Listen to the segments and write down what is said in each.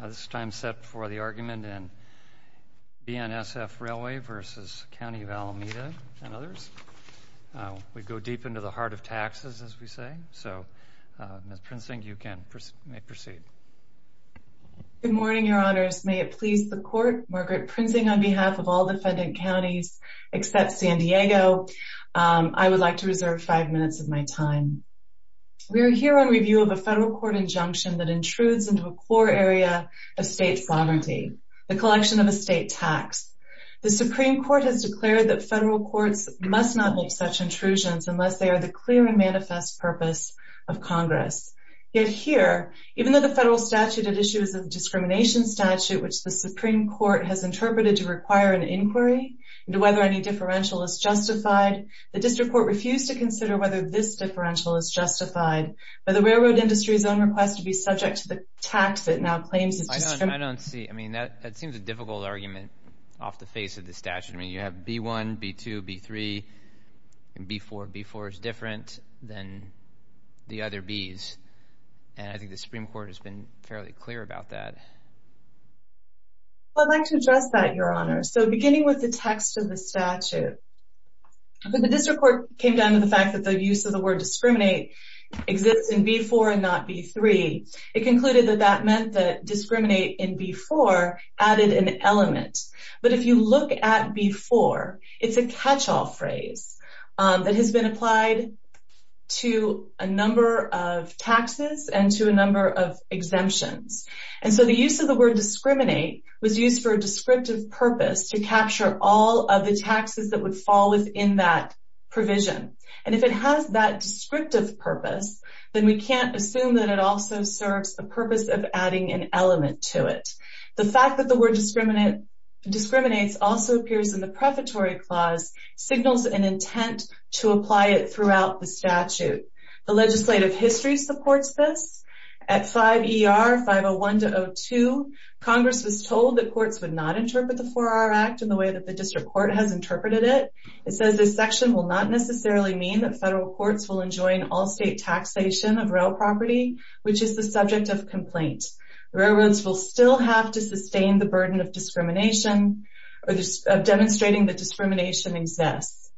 This time is set for the argument in BNSF Railway v. County of Alameda and others. We go deep into the heart of taxes, as we say, so Ms. Prinzing, you may proceed. Good morning, Your Honors. May it please the Court, Margaret Prinzing on behalf of all defendant counties except San Diego, I would like to reserve five minutes of my time. We are here on review of a federal court injunction that intrudes into a core area of state sovereignty, the collection of a state tax. The Supreme Court has declared that federal courts must not make such intrusions unless they are the clear and manifest purpose of Congress. Yet here, even though the federal statute at issue is a discrimination statute which the Supreme Court has interpreted to require an inquiry into whether any differential is justified, the district court refused to consider whether this differential is justified by the railroad industry's own request to be subject to the tax it now claims as discrimination. I don't see. I mean, that seems a difficult argument off the face of the statute. I mean, you have B-1, B-2, B-3, and B-4. B-4 is different than the other Bs. And I think the Supreme Court has been fairly clear about that. Well, I'd like to address that, Your Honor. So beginning with the text of the statute, when the district court came down to the fact that the use of the word discriminate exists in B-4 and not B-3, it concluded that that meant that discriminate in B-4 added an element. But if you look at B-4, it's a catch-all phrase that has been applied to a number of taxes and to a number of exemptions. And so the use of the word discriminate was used for a descriptive purpose to capture all of the taxes that would fall within that provision. And if it has that descriptive purpose, then we can't assume that it also serves the purpose of adding an element to it. The fact that the word discriminates also appears in the prefatory clause signals an intent to apply it throughout the statute. The legislative history supports this. At 5 ER 501-02, Congress was told that courts would not interpret the 4-R Act in the way that the district court has interpreted it. It says this section will not necessarily mean that federal courts will enjoin all-state taxation of rail property, which is the subject of complaint. Railroads will still have to sustain the burden of discrimination or demonstrating that discrimination exists.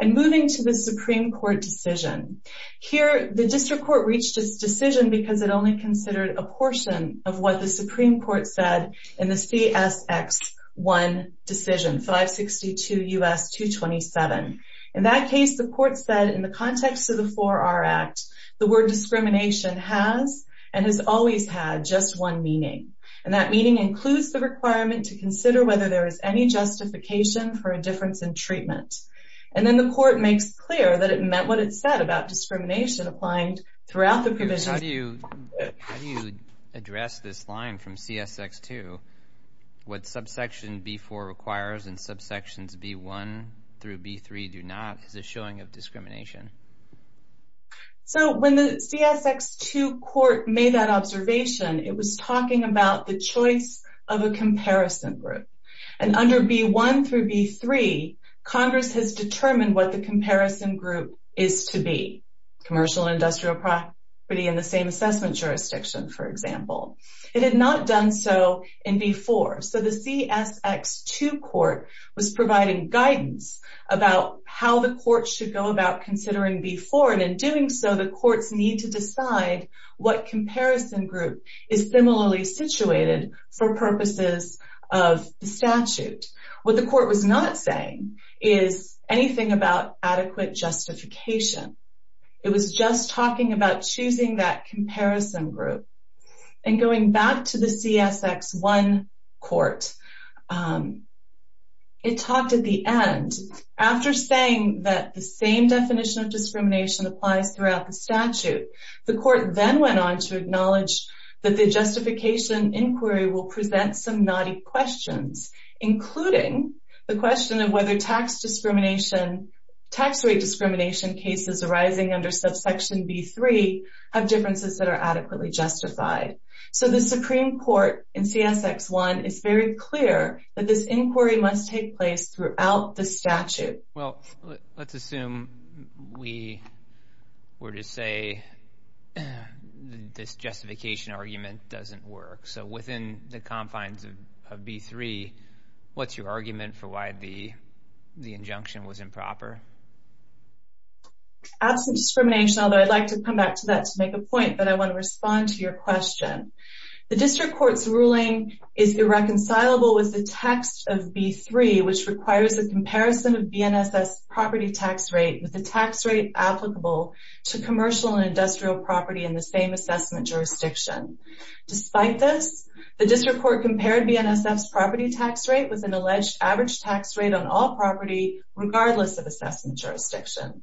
And moving to the Supreme Court decision. Here, the district court reached its decision because it only considered a portion of what the Supreme Court said in the CSX-1 decision, 562 U.S. 227. In that case, the court said in the context of the 4-R Act, the word discrimination has and has always had just one meaning. And that meaning includes the requirement to consider whether there is any justification for a difference in treatment. And then the court makes clear that it meant what it said about discrimination applying throughout the provision. How do you address this line from CSX-2? What subsection B-4 requires and subsections B-1 through B-3 do not is a showing of discrimination. So when the CSX-2 court made that observation, it was talking about the choice of a comparison group. And under B-1 through B-3, Congress has determined what the comparison group is to be. Commercial and industrial property in the same assessment jurisdiction, for example. It had not done so in B-4. So the CSX-2 court was providing guidance about how the court should go about considering B-4. And in doing so, the courts need to decide what comparison group is similarly situated for purposes of the statute. What the court was not saying is anything about adequate justification. It was just talking about choosing that comparison group. And going back to the CSX-1 court, it talked at the end. After saying that the same definition of discrimination applies throughout the statute, the court then went on to acknowledge that the justification inquiry will present some knotty questions, including the question of whether tax discrimination, tax rate discrimination cases arising under subsection B-3 have differences that are adequately justified. So the Supreme Court in CSX-1 is very clear that this inquiry must take place throughout the statute. Well, let's assume we were to say this justification argument doesn't work. So within the confines of B-3, what's your argument for why the injunction was improper? Absent discrimination, although I'd like to come back to that to make a point, but I want to respond to your question. The district court's ruling is irreconcilable with the text of B-3, which requires a comparison of BNSS property tax rate with the tax rate applicable to commercial and industrial property in the same assessment jurisdiction. Despite this, the district court compared BNSS property tax rate with an alleged average tax rate on all property, regardless of assessment jurisdiction.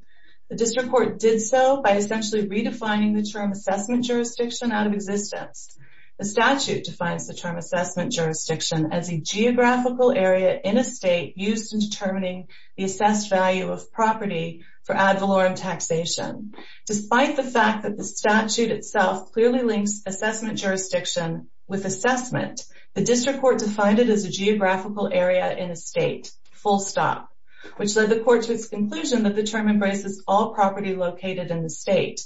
The district court did so by essentially redefining the term assessment jurisdiction out of existence. The statute defines the term assessment jurisdiction as a geographical area in a state used in determining the assessed value of property for ad valorem taxation. Despite the fact that the statute itself clearly links assessment jurisdiction with assessment, the district court defined it as a geographical area in a state, full stop, which led the court to its conclusion that the term embraces all property located in the state.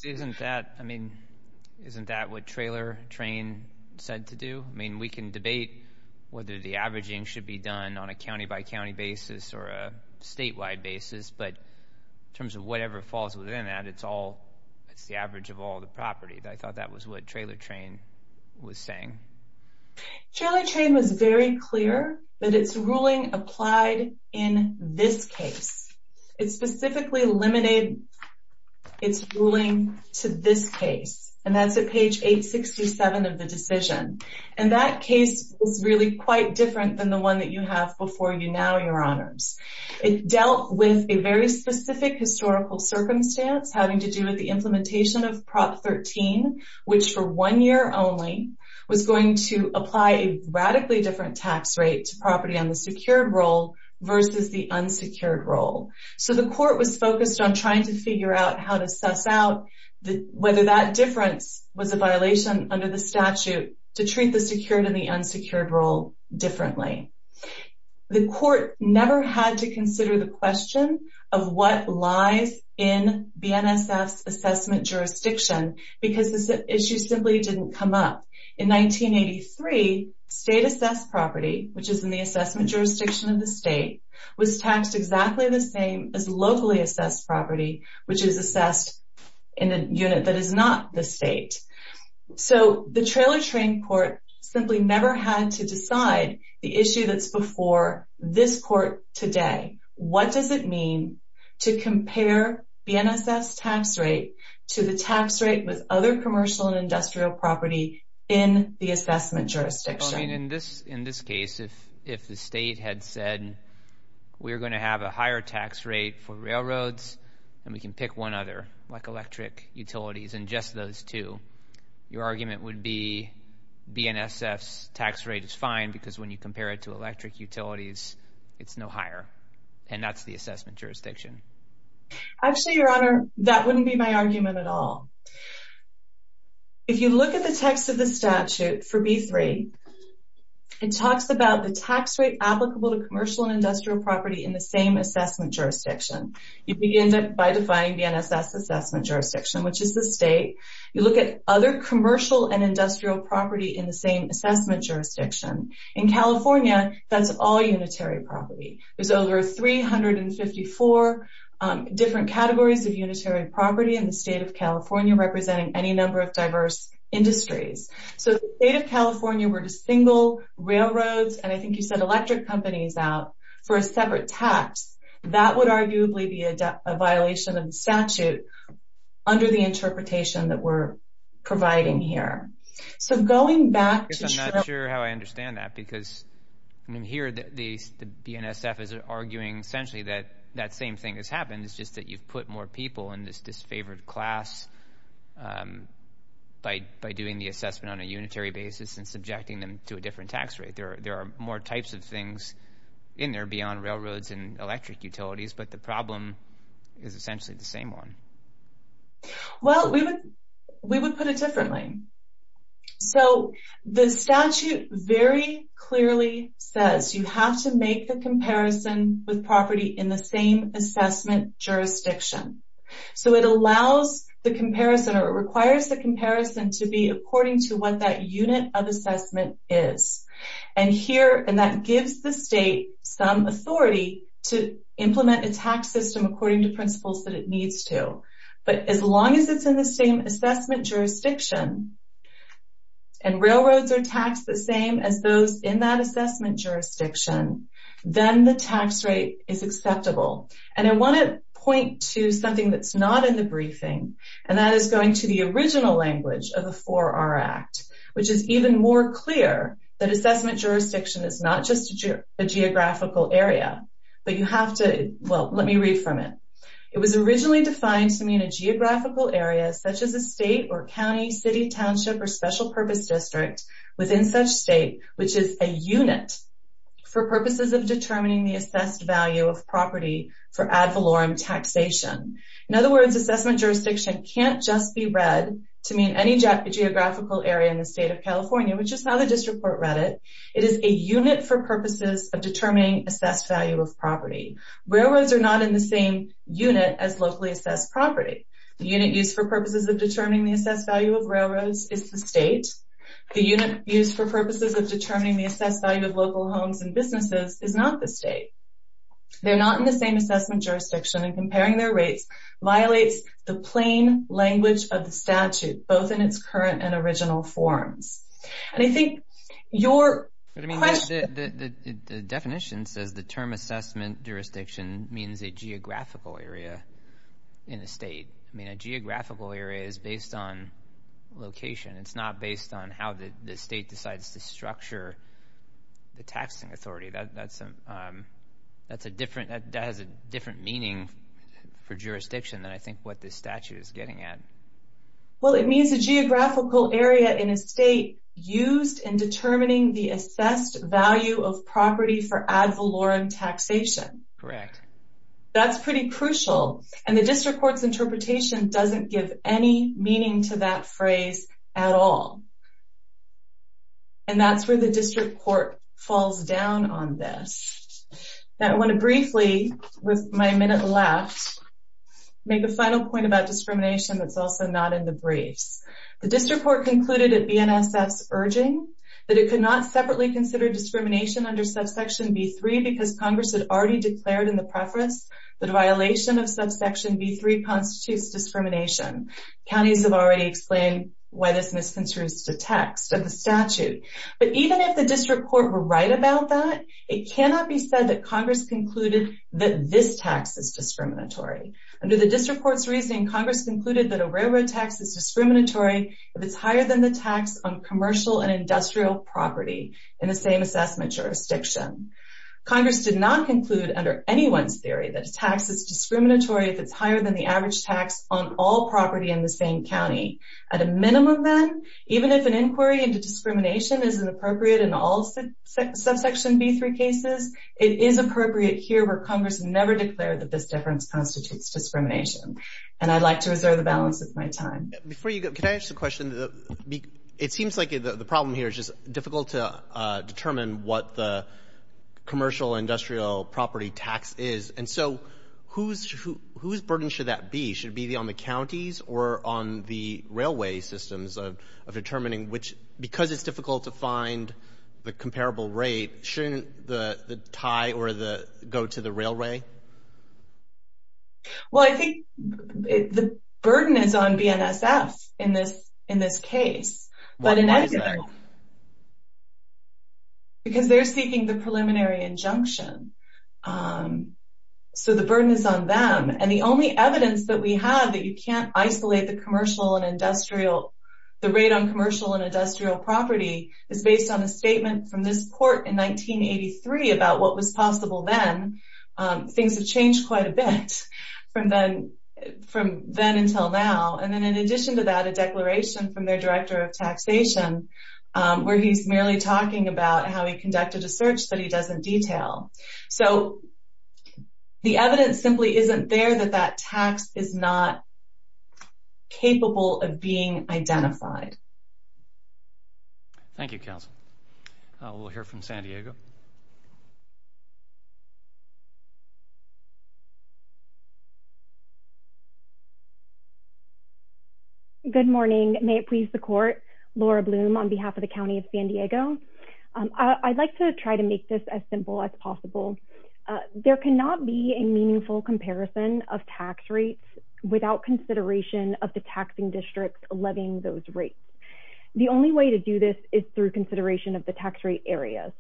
Isn't that what Trailer Train said to do? I mean, we can debate whether the averaging should be done on a county-by-county basis or a statewide basis, but in terms of whatever falls within that, it's the average of all the property. I thought that was what Trailer Train was saying. Trailer Train was very clear that its ruling applied in this case. It specifically eliminated its ruling to this case, and that's at page 867 of the decision. And that case was really quite different than the one that you have before you now, Your Honors. It dealt with a very specific historical circumstance having to do with the implementation of Prop 13, which for one year only was going to apply a radically different tax rate to property on the secured roll versus the unsecured roll. So the court was focused on trying to figure out how to suss out whether that difference was a violation under the statute to treat the secured and the unsecured roll differently. The court never had to consider the question of what lies in BNSF's assessment jurisdiction because this issue simply didn't come up. In 1983, state-assessed property, which is in the assessment jurisdiction of the state, was taxed exactly the same as locally-assessed property, which is assessed in a unit that is not the state. So the trailer-train court simply never had to decide the issue that's before this court today. What does it mean to compare BNSF's tax rate to the tax rate with other commercial and industrial property in the assessment jurisdiction? Well, I mean, in this case, if the state had said, we're going to have a higher tax rate for railroads, and we can pick one other, like electric utilities, and just those two, your argument would be BNSF's tax rate is fine because when you compare it to electric utilities, it's no higher, and that's the assessment jurisdiction. Actually, Your Honor, that wouldn't be my argument at all. If you look at the text of the statute for B-3, it talks about the tax rate applicable to commercial and industrial property in the same assessment jurisdiction. You begin by defining BNSF's assessment jurisdiction, which is the state. You look at other commercial and industrial property in the same assessment jurisdiction. In California, that's all unitary property. There's over 354 different categories of unitary property in the state of California representing any number of diverse industries. So if the state of California were to single railroads, and I think you said electric companies out, for a separate tax, that would arguably be a violation of the statute under the interpretation that we're providing here. I'm not sure how I understand that because here the BNSF is arguing essentially that that same thing has happened. It's just that you've put more people in this disfavored class by doing the assessment on a unitary basis and subjecting them to a different tax rate. There are more types of things in there beyond railroads and electric utilities, but the problem is essentially the same one. Well, we would put it differently. So the statute very clearly says you have to make the comparison with property in the same assessment jurisdiction. So it allows the comparison or it requires the comparison to be according to what that unit of assessment is. And that gives the state some authority to implement a tax system according to principles that it needs to. But as long as it's in the same assessment jurisdiction and railroads are taxed the same as those in that assessment jurisdiction, then the tax rate is acceptable. And I want to point to something that's not in the briefing, and that is going to the original language of the 4R Act, which is even more clear that assessment jurisdiction is not just a geographical area. But you have to – well, let me read from it. It was originally defined to mean a geographical area such as a state or county, city, township, or special purpose district within such state, which is a unit, for purposes of determining the assessed value of property for ad valorem taxation. In other words, assessment jurisdiction can't just be read to mean any geographical area in the state of California, which is how the district court read it. It is a unit for purposes of determining assessed value of property. Railroads are not in the same unit as locally assessed property. The unit used for purposes of determining the assessed value of railroads is the state. The unit used for purposes of determining the assessed value of local homes and businesses is not the state. They're not in the same assessment jurisdiction, and comparing their rates violates the plain language of the statute, both in its current and original forms. And I think your question – The definition says the term assessment jurisdiction means a geographical area in a state. I mean, a geographical area is based on location. It's not based on how the state decides to structure the taxing authority. That has a different meaning for jurisdiction than I think what this statute is getting at. Well, it means a geographical area in a state used in determining the assessed value of property for ad valorem taxation. Correct. That's pretty crucial, and the district court's interpretation doesn't give any meaning to that phrase at all. And that's where the district court falls down on this. Now, I want to briefly, with my minute left, make a final point about discrimination that's also not in the briefs. The district court concluded at BNSF's urging that it could not separately consider discrimination under subsection B3 because Congress had already declared in the preface that a violation of subsection B3 constitutes discrimination. Counties have already explained why this misconstrues the text of the statute. But even if the district court were right about that, it cannot be said that Congress concluded that this tax is discriminatory. Under the district court's reasoning, Congress concluded that a railroad tax is discriminatory if it's higher than the tax on commercial and industrial property in the same assessment jurisdiction. Congress did not conclude under anyone's theory that a tax is discriminatory if it's higher than the average tax on all property in the same county. At a minimum, then, even if an inquiry into discrimination isn't appropriate in all subsection B3 cases, it is appropriate here where Congress never declared that this difference constitutes discrimination. And I'd like to reserve the balance of my time. Before you go, can I ask a question? It seems like the problem here is just difficult to determine what the commercial-industrial property tax is. And so whose burden should that be? Should it be on the counties or on the railway systems of determining which, because it's difficult to find the comparable rate, shouldn't the tie go to the railway? Well, I think the burden is on BNSF in this case. Why is that? Because they're seeking the preliminary injunction. So the burden is on them. And the only evidence that we have that you can't isolate the rate on commercial and industrial property is based on a statement from this court in 1983 about what was possible then. Things have changed quite a bit from then until now. And then in addition to that, a declaration from their director of taxation, where he's merely talking about how he conducted a search that he doesn't detail. So the evidence simply isn't there that that tax is not capable of being identified. Thank you, counsel. We'll hear from San Diego. Good morning. May it please the court. Laura Bloom on behalf of the County of San Diego. I'd like to try to make this as simple as possible. There cannot be a meaningful comparison of tax rates without consideration of the taxing district levying those rates. The only way to do this is through consideration of the tax rate areas.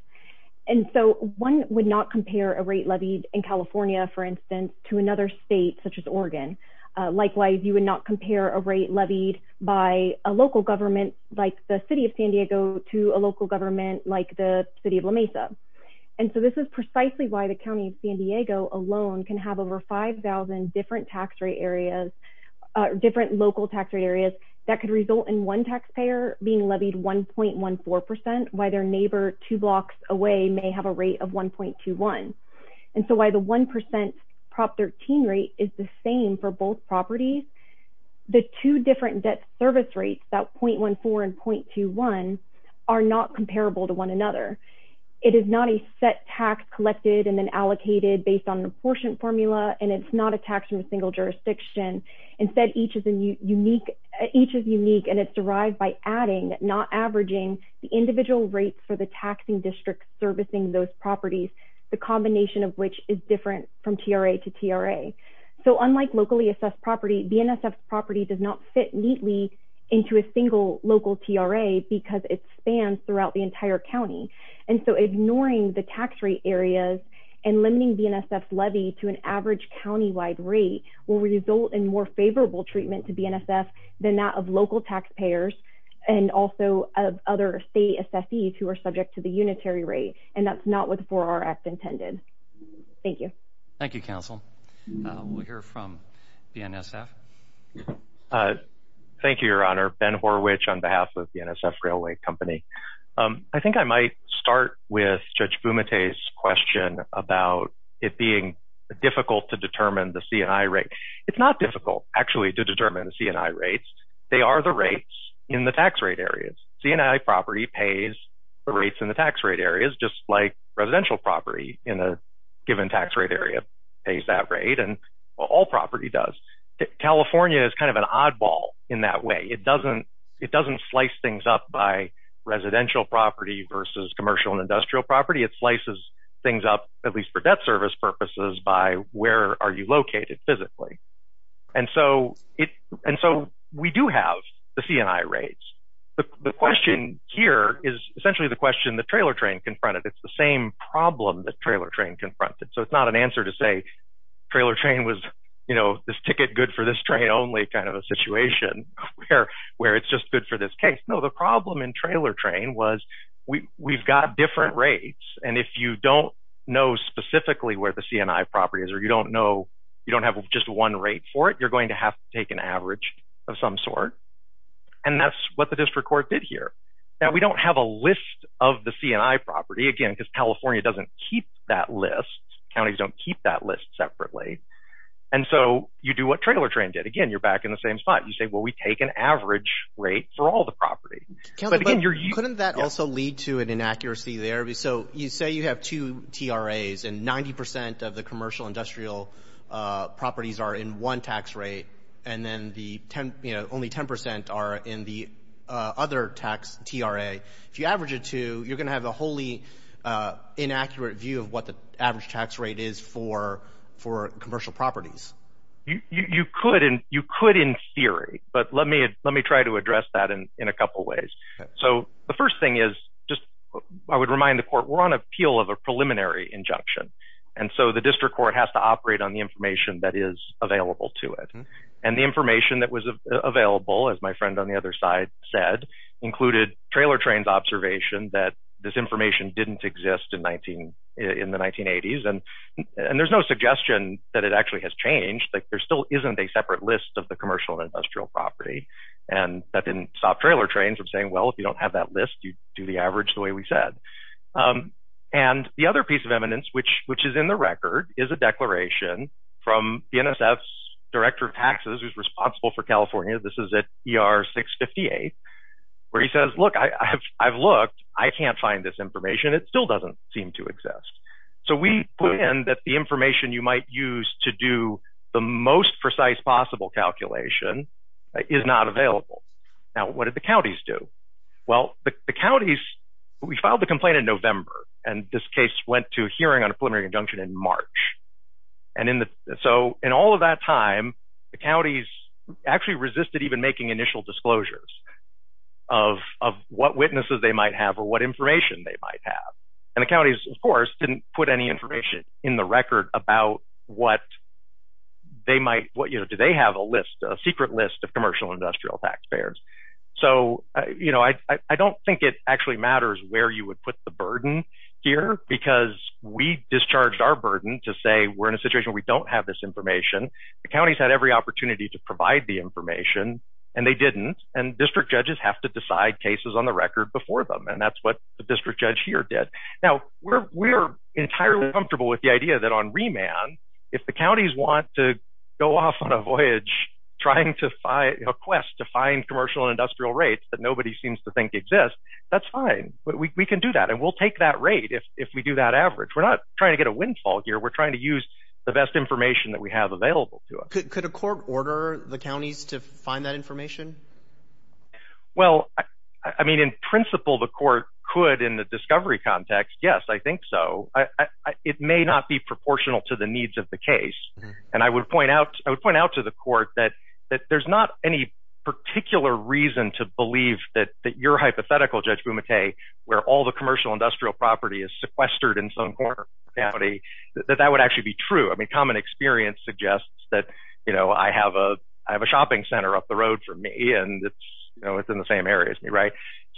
And so one would not compare a rate levied in California, for instance, to another state such as Oregon. Likewise, you would not compare a rate levied by a local government, like the city of San Diego, to a local government like the city of La Mesa. And so this is precisely why the County of San Diego alone can have over 5,000 different tax rate areas, different local tax rate areas, that could result in one taxpayer being levied 1.14%, while their neighbor two blocks away may have a rate of 1.21. And so while the 1% Prop 13 rate is the same for both properties, the two different debt service rates, that 0.14 and 0.21, are not comparable to one another. It is not a set tax collected and then allocated based on the portion formula, and it's not a tax from a single jurisdiction. Instead, each is unique, and it's derived by adding, not averaging, the individual rates for the taxing district servicing those properties, the combination of which is different from TRA to TRA. So unlike locally assessed property, BNSF property does not fit neatly into a single local TRA because it spans throughout the entire county. And so ignoring the tax rate areas and limiting BNSF's levy to an average countywide rate will result in more favorable treatment to BNSF than that of local taxpayers and also of other state assessees who are subject to the unitary rate, and that's not what the 4R Act intended. Thank you. Thank you, Counsel. We'll hear from BNSF. Thank you, Your Honor. Ben Horwich on behalf of BNSF Railway Company. I think I might start with Judge Fumate's question about it being difficult to determine the C&I rate. It's not difficult, actually, to determine the C&I rates. They are the rates in the tax rate areas. C&I property pays the rates in the tax rate areas, just like residential property in a given tax rate area pays that rate, and all property does. California is kind of an oddball in that way. It doesn't slice things up by residential property versus commercial and industrial property. It slices things up, at least for debt service purposes, by where are you located physically. And so we do have the C&I rates. The question here is essentially the question the trailer train confronted. It's the same problem the trailer train confronted. So it's not an answer to say trailer train was, you know, this ticket good for this train only kind of a situation where it's just good for this case. No, the problem in trailer train was we've got different rates, and if you don't know specifically where the C&I property is or you don't have just one rate for it, you're going to have to take an average of some sort. And that's what the district court did here. Now, we don't have a list of the C&I property, again, because California doesn't keep that list. Counties don't keep that list separately. And so you do what trailer train did. Again, you're back in the same spot. You say, well, we take an average rate for all the property. Couldn't that also lead to an inaccuracy there? So you say you have two TRAs, and 90% of the commercial industrial properties are in one tax rate, and then only 10% are in the other tax TRA. If you average the two, you're going to have a wholly inaccurate view of what the average tax rate is for commercial properties. You could in theory, but let me try to address that in a couple ways. So the first thing is just I would remind the court we're on appeal of a preliminary injunction. And so the district court has to operate on the information that is available to it. And the information that was available, as my friend on the other side said, included trailer trains observation that this information didn't exist in the 1980s. And there's no suggestion that it actually has changed. There still isn't a separate list of the commercial and industrial property. And that didn't stop trailer trains from saying, well, if you don't have that list, you do the average the way we said. And the other piece of eminence, which is in the record, is a declaration from the NSF's director of taxes who's responsible for California. This is at ER 658, where he says, look, I've looked. I can't find this information. It still doesn't seem to exist. So we put in that the information you might use to do the most precise possible calculation is not available. Now, what did the counties do? Well, the counties, we filed the complaint in November. And this case went to a hearing on a preliminary injunction in March. And so in all of that time, the counties actually resisted even making initial disclosures of what witnesses they might have or what information they might have. And the counties, of course, didn't put any information in the record about what they might. What do they have? A list, a secret list of commercial industrial taxpayers. So, you know, I don't think it actually matters where you would put the burden here because we discharged our burden to say we're in a situation we don't have this information. The counties had every opportunity to provide the information and they didn't. And district judges have to decide cases on the record before them. And that's what the district judge here did. Now, we're entirely comfortable with the idea that on remand, if the counties want to go off on a voyage trying to find a quest to find commercial industrial rates that nobody seems to think exists, that's fine. But we can do that and we'll take that rate if we do that average. We're not trying to get a windfall here. We're trying to use the best information that we have available to us. Could a court order the counties to find that information? Well, I mean, in principle, the court could in the discovery context. Yes, I think so. It may not be proportional to the needs of the case. And I would point out, I would point out to the court that there's not any particular reason to believe that your hypothetical, Judge Bumate, where all the commercial industrial property is sequestered in some corner of the county, that that would actually be true. I mean, common experience suggests that, you know, I have a, I have a shopping center up the road for me and it's, you know, it's in the same area as me, right?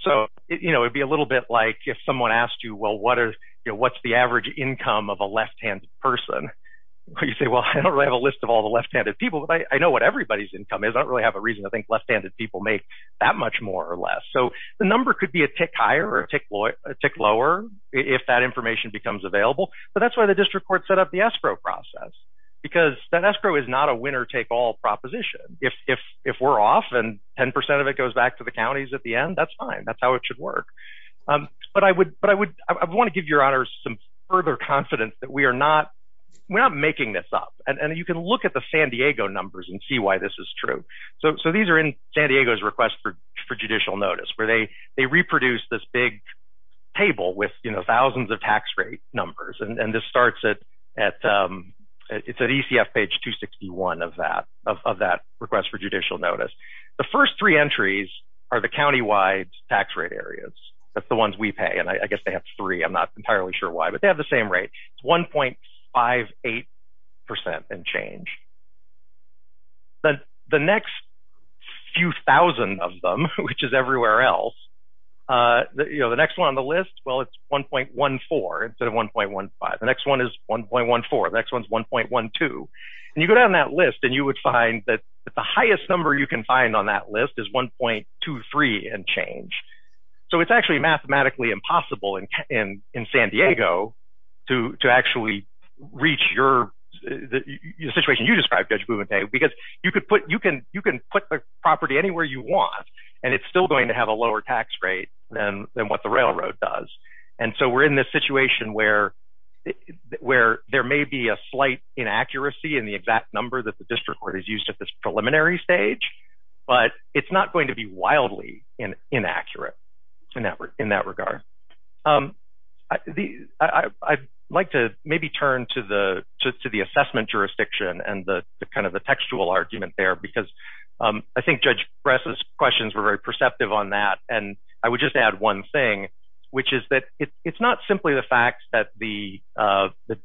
So, you know, it'd be a little bit like if someone asked you, well, what are, what's the average income of a left-handed person? You say, well, I don't really have a list of all the left-handed people, but I know what everybody's income is. I don't really have a reason to think left-handed people make that much more or less. So the number could be a tick higher or a tick lower if that information becomes available. But that's why the district court set up the escrow process, because that escrow is not a winner-take-all proposition. If we're off and 10% of it goes back to the counties at the end, that's fine. That's how it should work. But I would, but I would, I want to give your honors some further confidence that we are not, we're not making this up. And you can look at the San Diego numbers and see why this is true. So these are in San Diego's request for judicial notice, where they reproduce this big table with, you know, thousands of tax rate numbers. And this starts at, it's at ECF page 261 of that, of that request for judicial notice. The first three entries are the countywide tax rate areas. That's the ones we pay, and I guess they have three. I'm not entirely sure why, but they have the same rate. It's 1.58% and change. The next few thousand of them, which is everywhere else, you know, the next one on the list, well, it's 1.14 instead of 1.15. The next one is 1.14. The next one's 1.12. And you go down that list, and you would find that the highest number you can find on that list is 1.23 and change. So it's actually mathematically impossible in San Diego to actually reach your, the situation you described, Judge Bouventier, because you can put the property anywhere you want, and it's still going to have a lower tax rate than what the railroad does. And so we're in this situation where there may be a slight inaccuracy in the exact number that the district court has used at this preliminary stage, but it's not going to be wildly inaccurate in that regard. I'd like to maybe turn to the assessment jurisdiction and kind of the textual argument there, because I think Judge Bress's questions were very perceptive on that, and I would just add one thing, which is that it's not simply the fact that the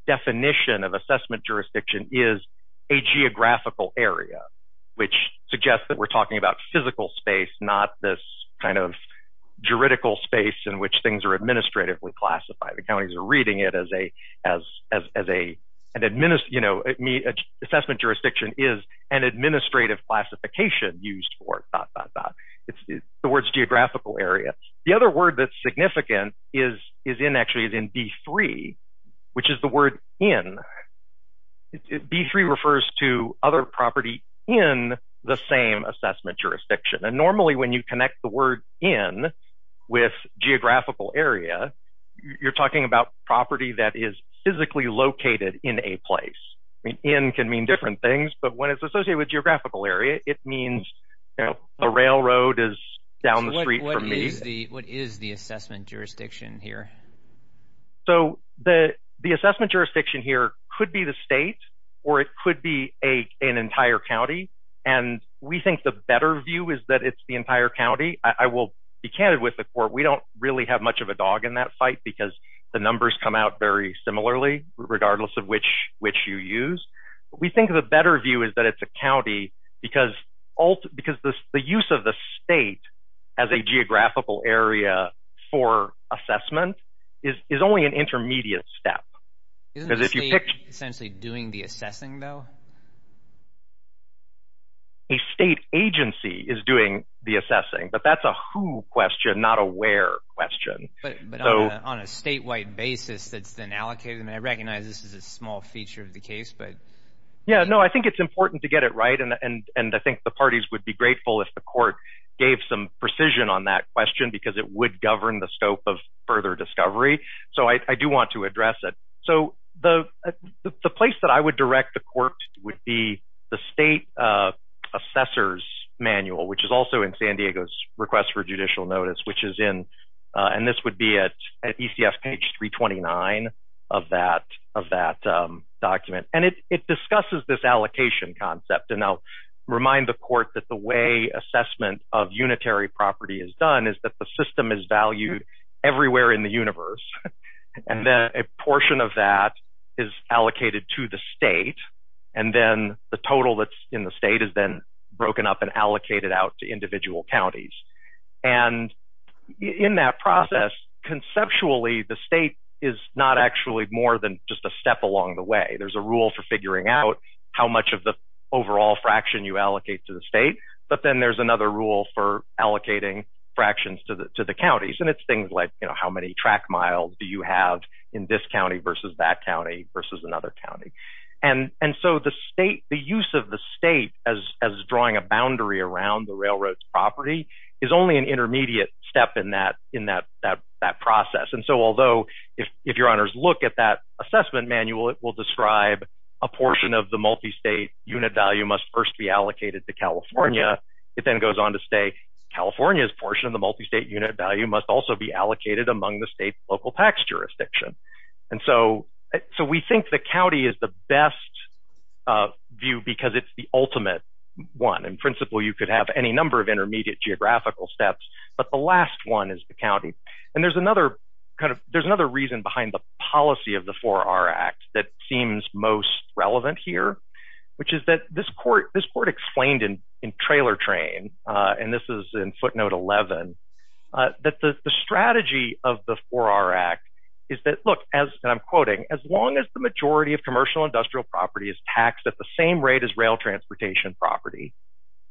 definition of assessment jurisdiction is a geographical area, which suggests that we're talking about physical space, not this kind of juridical space in which things are administratively classified. The counties are reading it as a, you know, assessment jurisdiction is an administrative classification used for, dot, dot, dot. The word's geographical area. The other word that's significant is in, actually, is in B3, which is the word in. B3 refers to other property in the same assessment jurisdiction, and normally when you connect the word in with geographical area, you're talking about property that is physically located in a place. In can mean different things, but when it's associated with geographical area, it means, you know, a railroad is down the street from me. So what is the assessment jurisdiction here? So the assessment jurisdiction here could be the state or it could be an entire county, and we think the better view is that it's the entire county. I will be candid with the court. We don't really have much of a dog in that fight because the numbers come out very similarly, regardless of which you use. We think the better view is that it's a county because the use of the state as a geographical area for assessment is only an intermediate step. Isn't the state essentially doing the assessing, though? A state agency is doing the assessing, but that's a who question, not a where question. But on a statewide basis that's been allocated, and I recognize this is a small feature of the case, but... Yeah, no, I think it's important to get it right, and I think the parties would be grateful if the court gave some precision on that question because it would govern the scope of further discovery. So I do want to address it. So the place that I would direct the court would be the state assessor's manual, which is also in San Diego's request for judicial notice, and this would be at ECF page 329 of that document. And it discusses this allocation concept, and I'll remind the court that the way assessment of unitary property is done is that the system is valued everywhere in the universe, and then a portion of that is allocated to the state, and then the total that's in the state is then broken up and allocated out to individual counties. And in that process, conceptually the state is not actually more than just a step along the way. There's a rule for figuring out how much of the overall fraction you allocate to the state, but then there's another rule for allocating fractions to the counties, and it's things like how many track miles do you have in this county versus that county versus another county. And so the use of the state as drawing a boundary around the railroad's property is only an intermediate step in that process. And so although if your honors look at that assessment manual, it will describe a portion of the multistate unit value must first be allocated to California. It then goes on to say California's portion of the multistate unit value must also be allocated among the state's local tax jurisdiction. And so we think the county is the best view because it's the ultimate one. In principle, you could have any number of intermediate geographical steps, but the last one is the county. And there's another reason behind the policy of the 4R Act that seems most relevant here, which is that this court explained in trailer train, and this is in footnote 11, that the strategy of the 4R Act is that, look, as I'm quoting, as long as the majority of commercial industrial property is taxed at the same rate as rail transportation property,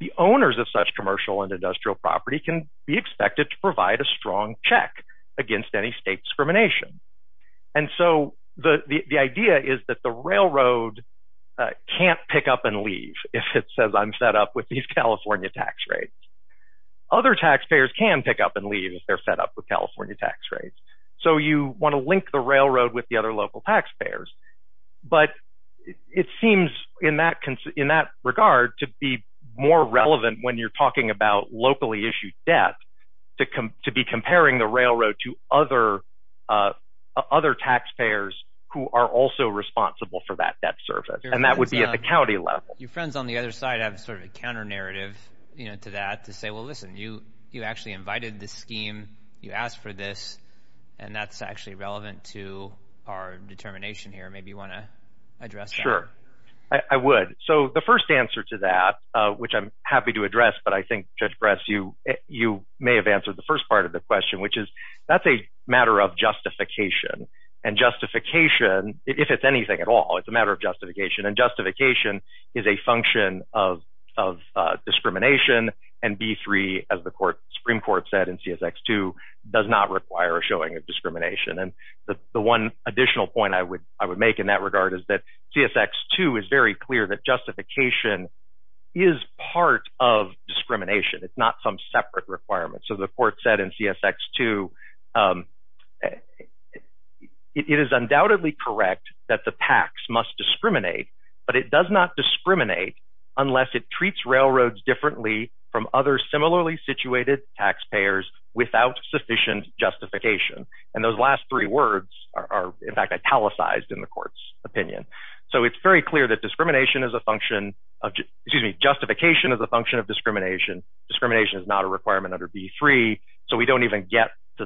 the owners of such commercial and industrial property can be expected to provide a strong check against any state discrimination. And so the idea is that the railroad can't pick up and leave if it says I'm set up with these California tax rates. Other taxpayers can pick up and leave if they're set up with California tax rates. So you want to link the railroad with the other local taxpayers. But it seems in that regard to be more relevant when you're talking about locally issued debt to be comparing the railroad to other taxpayers who are also responsible for that debt service. And that would be at the county level. Your friends on the other side have sort of a counter narrative to that to say, well, listen, you actually invited this scheme. You asked for this, and that's actually relevant to our determination here. Maybe you want to address that. Sure, I would. So the first answer to that, which I'm happy to address, but I think, Judge Bress, you may have answered the first part of the question, which is that's a matter of justification. And justification, if it's anything at all, it's a matter of justification. And justification is a function of discrimination. And B-3, as the Supreme Court said in CSX-2, does not require a showing of discrimination. And the one additional point I would make in that regard is that CSX-2 is very clear that justification is part of discrimination. It's not some separate requirement. So the court said in CSX-2, it is undoubtedly correct that the PACS must discriminate, but it does not discriminate unless it treats railroads differently from other similarly situated taxpayers without sufficient justification. And those last three words are, in fact, italicized in the court's opinion. So it's very clear that discrimination is a function of – excuse me, justification is a function of discrimination. Discrimination is not a requirement under B-3, so we don't even get to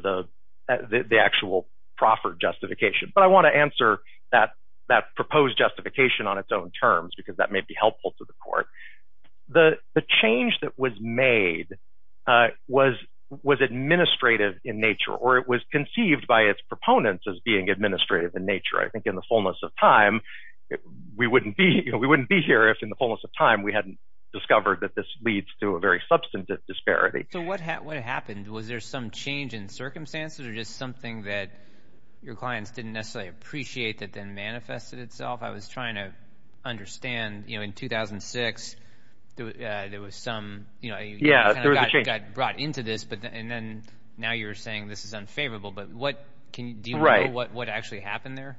the actual proffered justification. But I want to answer that proposed justification on its own terms because that may be helpful to the court. The change that was made was administrative in nature, or it was conceived by its proponents as being administrative in nature. I think in the fullness of time, we wouldn't be here if in the fullness of time we hadn't discovered that this leads to a very substantive disparity. So what happened? Was there some change in circumstances or just something that your clients didn't necessarily appreciate that then manifested itself? I was trying to understand. In 2006, there was some – you got brought into this, and then now you're saying this is unfavorable. But what – do you know what actually happened there?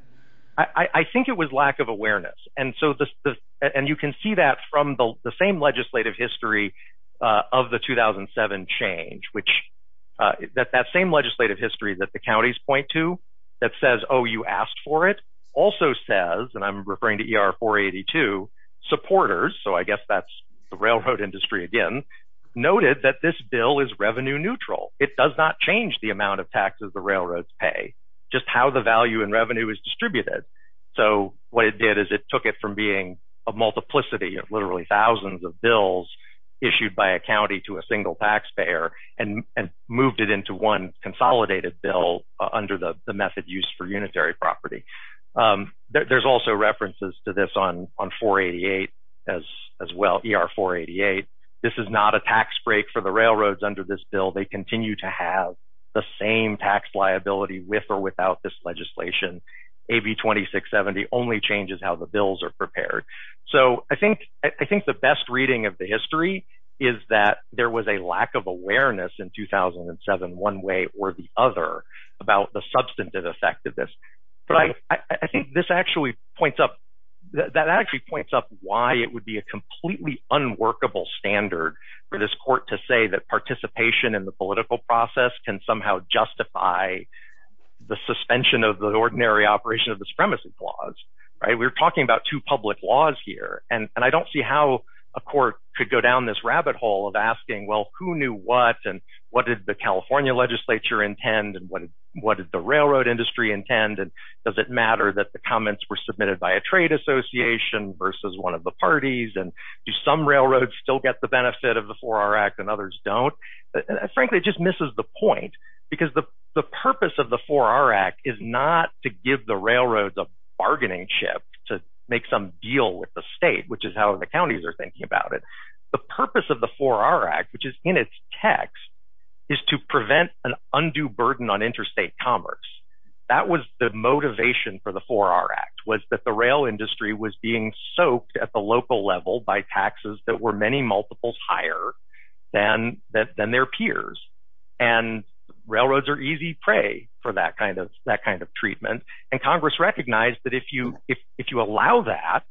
I think it was lack of awareness. And you can see that from the same legislative history of the 2007 change, which – that same legislative history that the counties point to that says, oh, you asked for it, also says – and I'm referring to ER-482 – supporters – so I guess that's the railroad industry again – noted that this bill is revenue neutral. It does not change the amount of taxes the railroads pay, just how the value in revenue is distributed. So what it did is it took it from being a multiplicity of literally thousands of bills issued by a county to a single taxpayer and moved it into one consolidated bill under the method used for unitary property. There's also references to this on 488 as well, ER-488. This is not a tax break for the railroads under this bill. They continue to have the same tax liability with or without this legislation. AB-2670 only changes how the bills are prepared. So I think the best reading of the history is that there was a lack of awareness in 2007, one way or the other, about the substantive effect of this. But I think this actually points up – that actually points up why it would be a completely unworkable standard for this court to say that participation in the political process can somehow justify the suspension of the ordinary operation of the Supremacy Clause. We're talking about two public laws here, and I don't see how a court could go down this rabbit hole of asking, well, who knew what, and what did the California legislature intend, and what did the railroad industry intend, and does it matter that the comments were submitted by a trade association versus one of the parties, and do some railroads still get the benefit of the 4R Act and others don't? Frankly, it just misses the point because the purpose of the 4R Act is not to give the railroads a bargaining chip to make some deal with the state, which is how the counties are thinking about it. The purpose of the 4R Act, which is in its text, is to prevent an undue burden on interstate commerce. That was the motivation for the 4R Act, was that the rail industry was being soaked at the local level by taxes that were many multiples higher than their peers. Railroads are easy prey for that kind of treatment, and Congress recognized that if you allow that,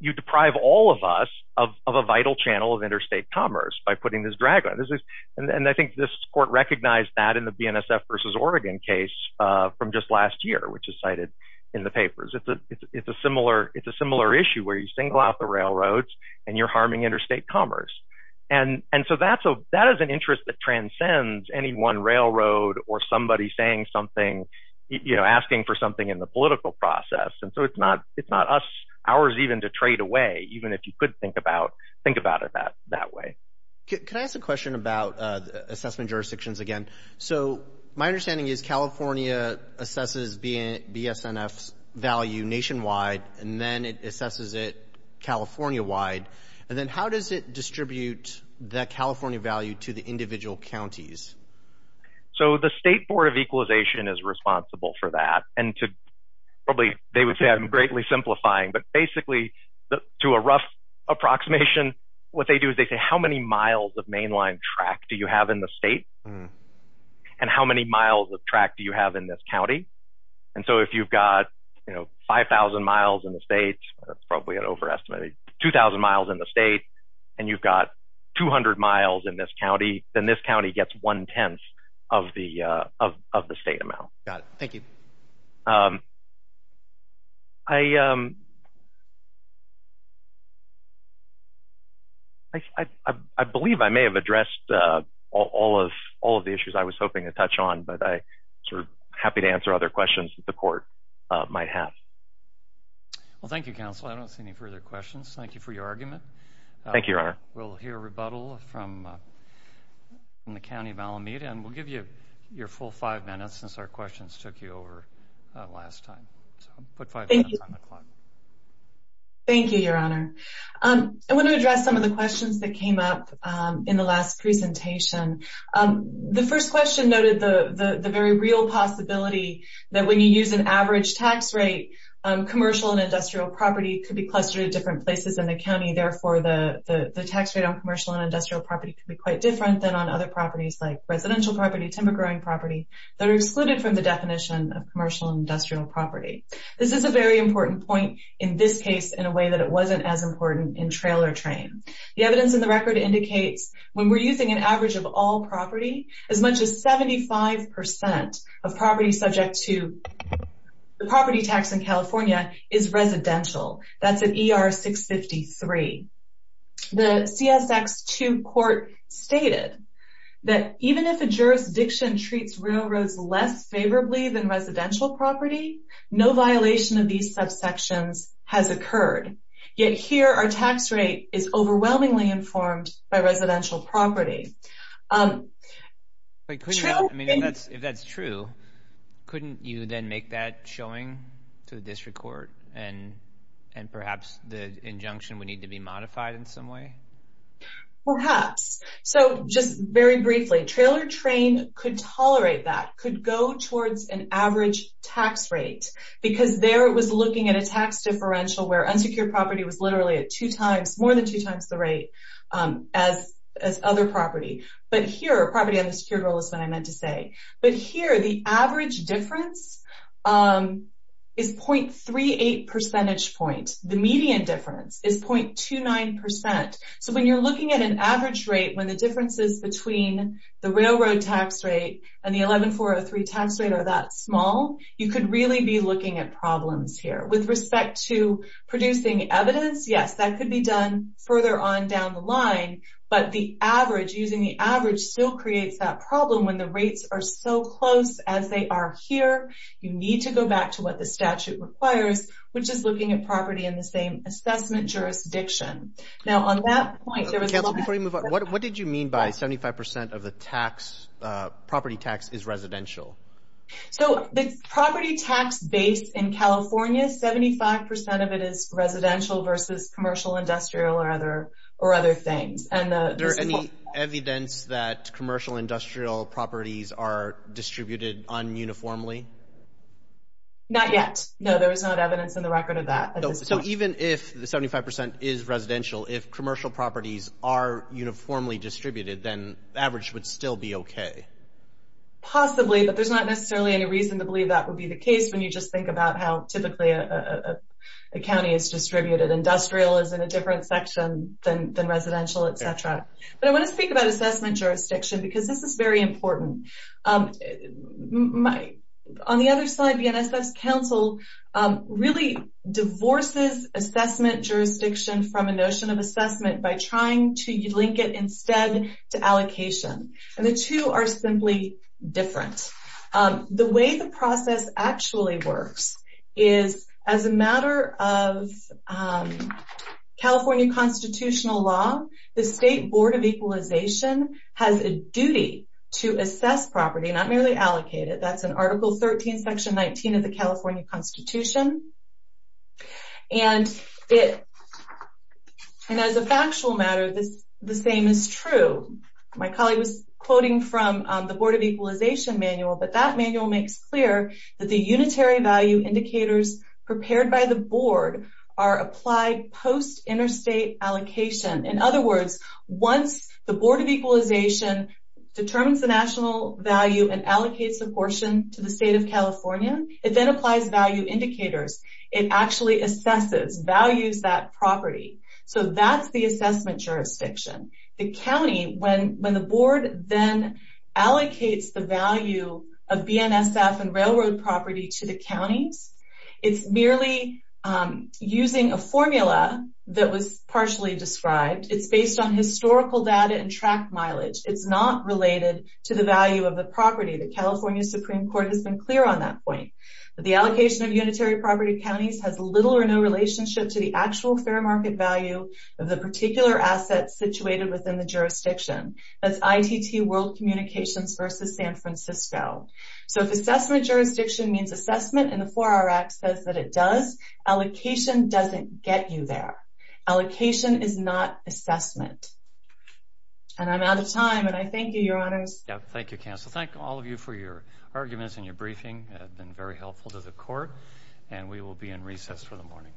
you deprive all of us of a vital channel of interstate commerce by putting this drag on it. I think this court recognized that in the BNSF versus Oregon case from just last year, which is cited in the papers. It's a similar issue where you single out the railroads, and you're harming interstate commerce. That is an interest that transcends any one railroad or somebody asking for something in the political process. It's not ours even to trade away, even if you could think about it that way. Can I ask a question about assessment jurisdictions again? My understanding is California assesses BSNF's value nationwide, and then it assesses it California-wide. Then how does it distribute that California value to the individual counties? The State Board of Equalization is responsible for that. Probably they would say I'm greatly simplifying, but basically to a rough approximation, what they do is they say, how many miles of mainline track do you have in the state, and how many miles of track do you have in this county? If you've got 5,000 miles in the state, that's probably an overestimate, 2,000 miles in the state, and you've got 200 miles in this county, then this county gets one-tenth of the state amount. Got it. Thank you. I believe I may have addressed all of the issues I was hoping to touch on, but I'm happy to answer other questions that the Court might have. Thank you, Counsel. I don't see any further questions. Thank you for your argument. Thank you, Your Honor. We'll hear rebuttal from the County of Alameda, and we'll give you your full five minutes since our questions took you over last time. Put five minutes on the clock. Thank you, Your Honor. I want to address some of the questions that came up in the last presentation. The first question noted the very real possibility that when you use an average tax rate, commercial and industrial property could be clustered at different places in the county. Therefore, the tax rate on commercial and industrial property could be quite different than on other properties, like residential property, timber-growing property, that are excluded from the definition of commercial and industrial property. This is a very important point in this case in a way that it wasn't as important in trail or train. The evidence in the record indicates when we're using an average of all property, as much as 75% of property subject to the property tax in California is residential. That's at ER 653. The CSX 2 court stated that even if a jurisdiction treats railroads less favorably than residential property, no violation of these subsections has occurred. Yet here our tax rate is overwhelmingly informed by residential property. If that's true, couldn't you then make that showing to the district court and perhaps the injunction would need to be modified in some way? Perhaps. Just very briefly, trail or train could tolerate that, could go towards an average tax rate, because there it was looking at a tax differential where unsecured property was literally at two times, more than two times the rate as other property. But here, property under secured rule is what I meant to say. But here, the average difference is 0.38 percentage point. The median difference is 0.29%. So when you're looking at an average rate, when the differences between the railroad tax rate and the 11403 tax rate are that small, you could really be looking at problems here. With respect to producing evidence, yes, that could be done further on down the line. But the average, using the average still creates that problem when the rates are so close as they are here. You need to go back to what the statute requires, which is looking at property in the same assessment jurisdiction. Now on that point, there was a lot of... Counsel, before you move on, what did you mean by 75% of the property tax is residential? The property tax base in California, 75% of it is residential versus commercial, industrial, or other things. Is there any evidence that commercial industrial properties are distributed un-uniformly? Not yet. No, there is not evidence in the record of that. So even if the 75% is residential, if commercial properties are uniformly distributed, then the average would still be okay? Possibly, but there's not necessarily any reason to believe that would be the case when you just think about how typically a county is distributed. Industrial is in a different section than residential, etc. But I want to speak about assessment jurisdiction because this is very important. On the other side, the NSF's council really divorces assessment jurisdiction from a notion of assessment by trying to link it instead to allocation. And the two are simply different. The way the process actually works is as a matter of California constitutional law, the State Board of Equalization has a duty to assess property, not merely allocate it. That's in Article 13, Section 19 of the California Constitution. And as a factual matter, the same is true. My colleague was quoting from the Board of Equalization manual, but that manual makes clear that the unitary value indicators prepared by the board are applied post-interstate allocation. In other words, once the Board of Equalization determines the national value and allocates a portion to the State of California, it then applies value indicators. It actually assesses, values that property. So that's the assessment jurisdiction. The county, when the board then allocates the value of BNSF and railroad property to the counties, it's merely using a formula that was partially described. It's based on historical data and track mileage. It's not related to the value of the property. The California Supreme Court has been clear on that point. The allocation of unitary property to counties has little or no relationship to the actual fair market value of the particular asset situated within the jurisdiction. That's ITT World Communications versus San Francisco. So if assessment jurisdiction means assessment and the 4R Act says that it does, allocation doesn't get you there. Allocation is not assessment. And I'm out of time, and I thank you, Your Honors. Thank you, Counsel. Thank all of you for your arguments and your briefing. It has been very helpful to the court. And we will be in recess for the morning.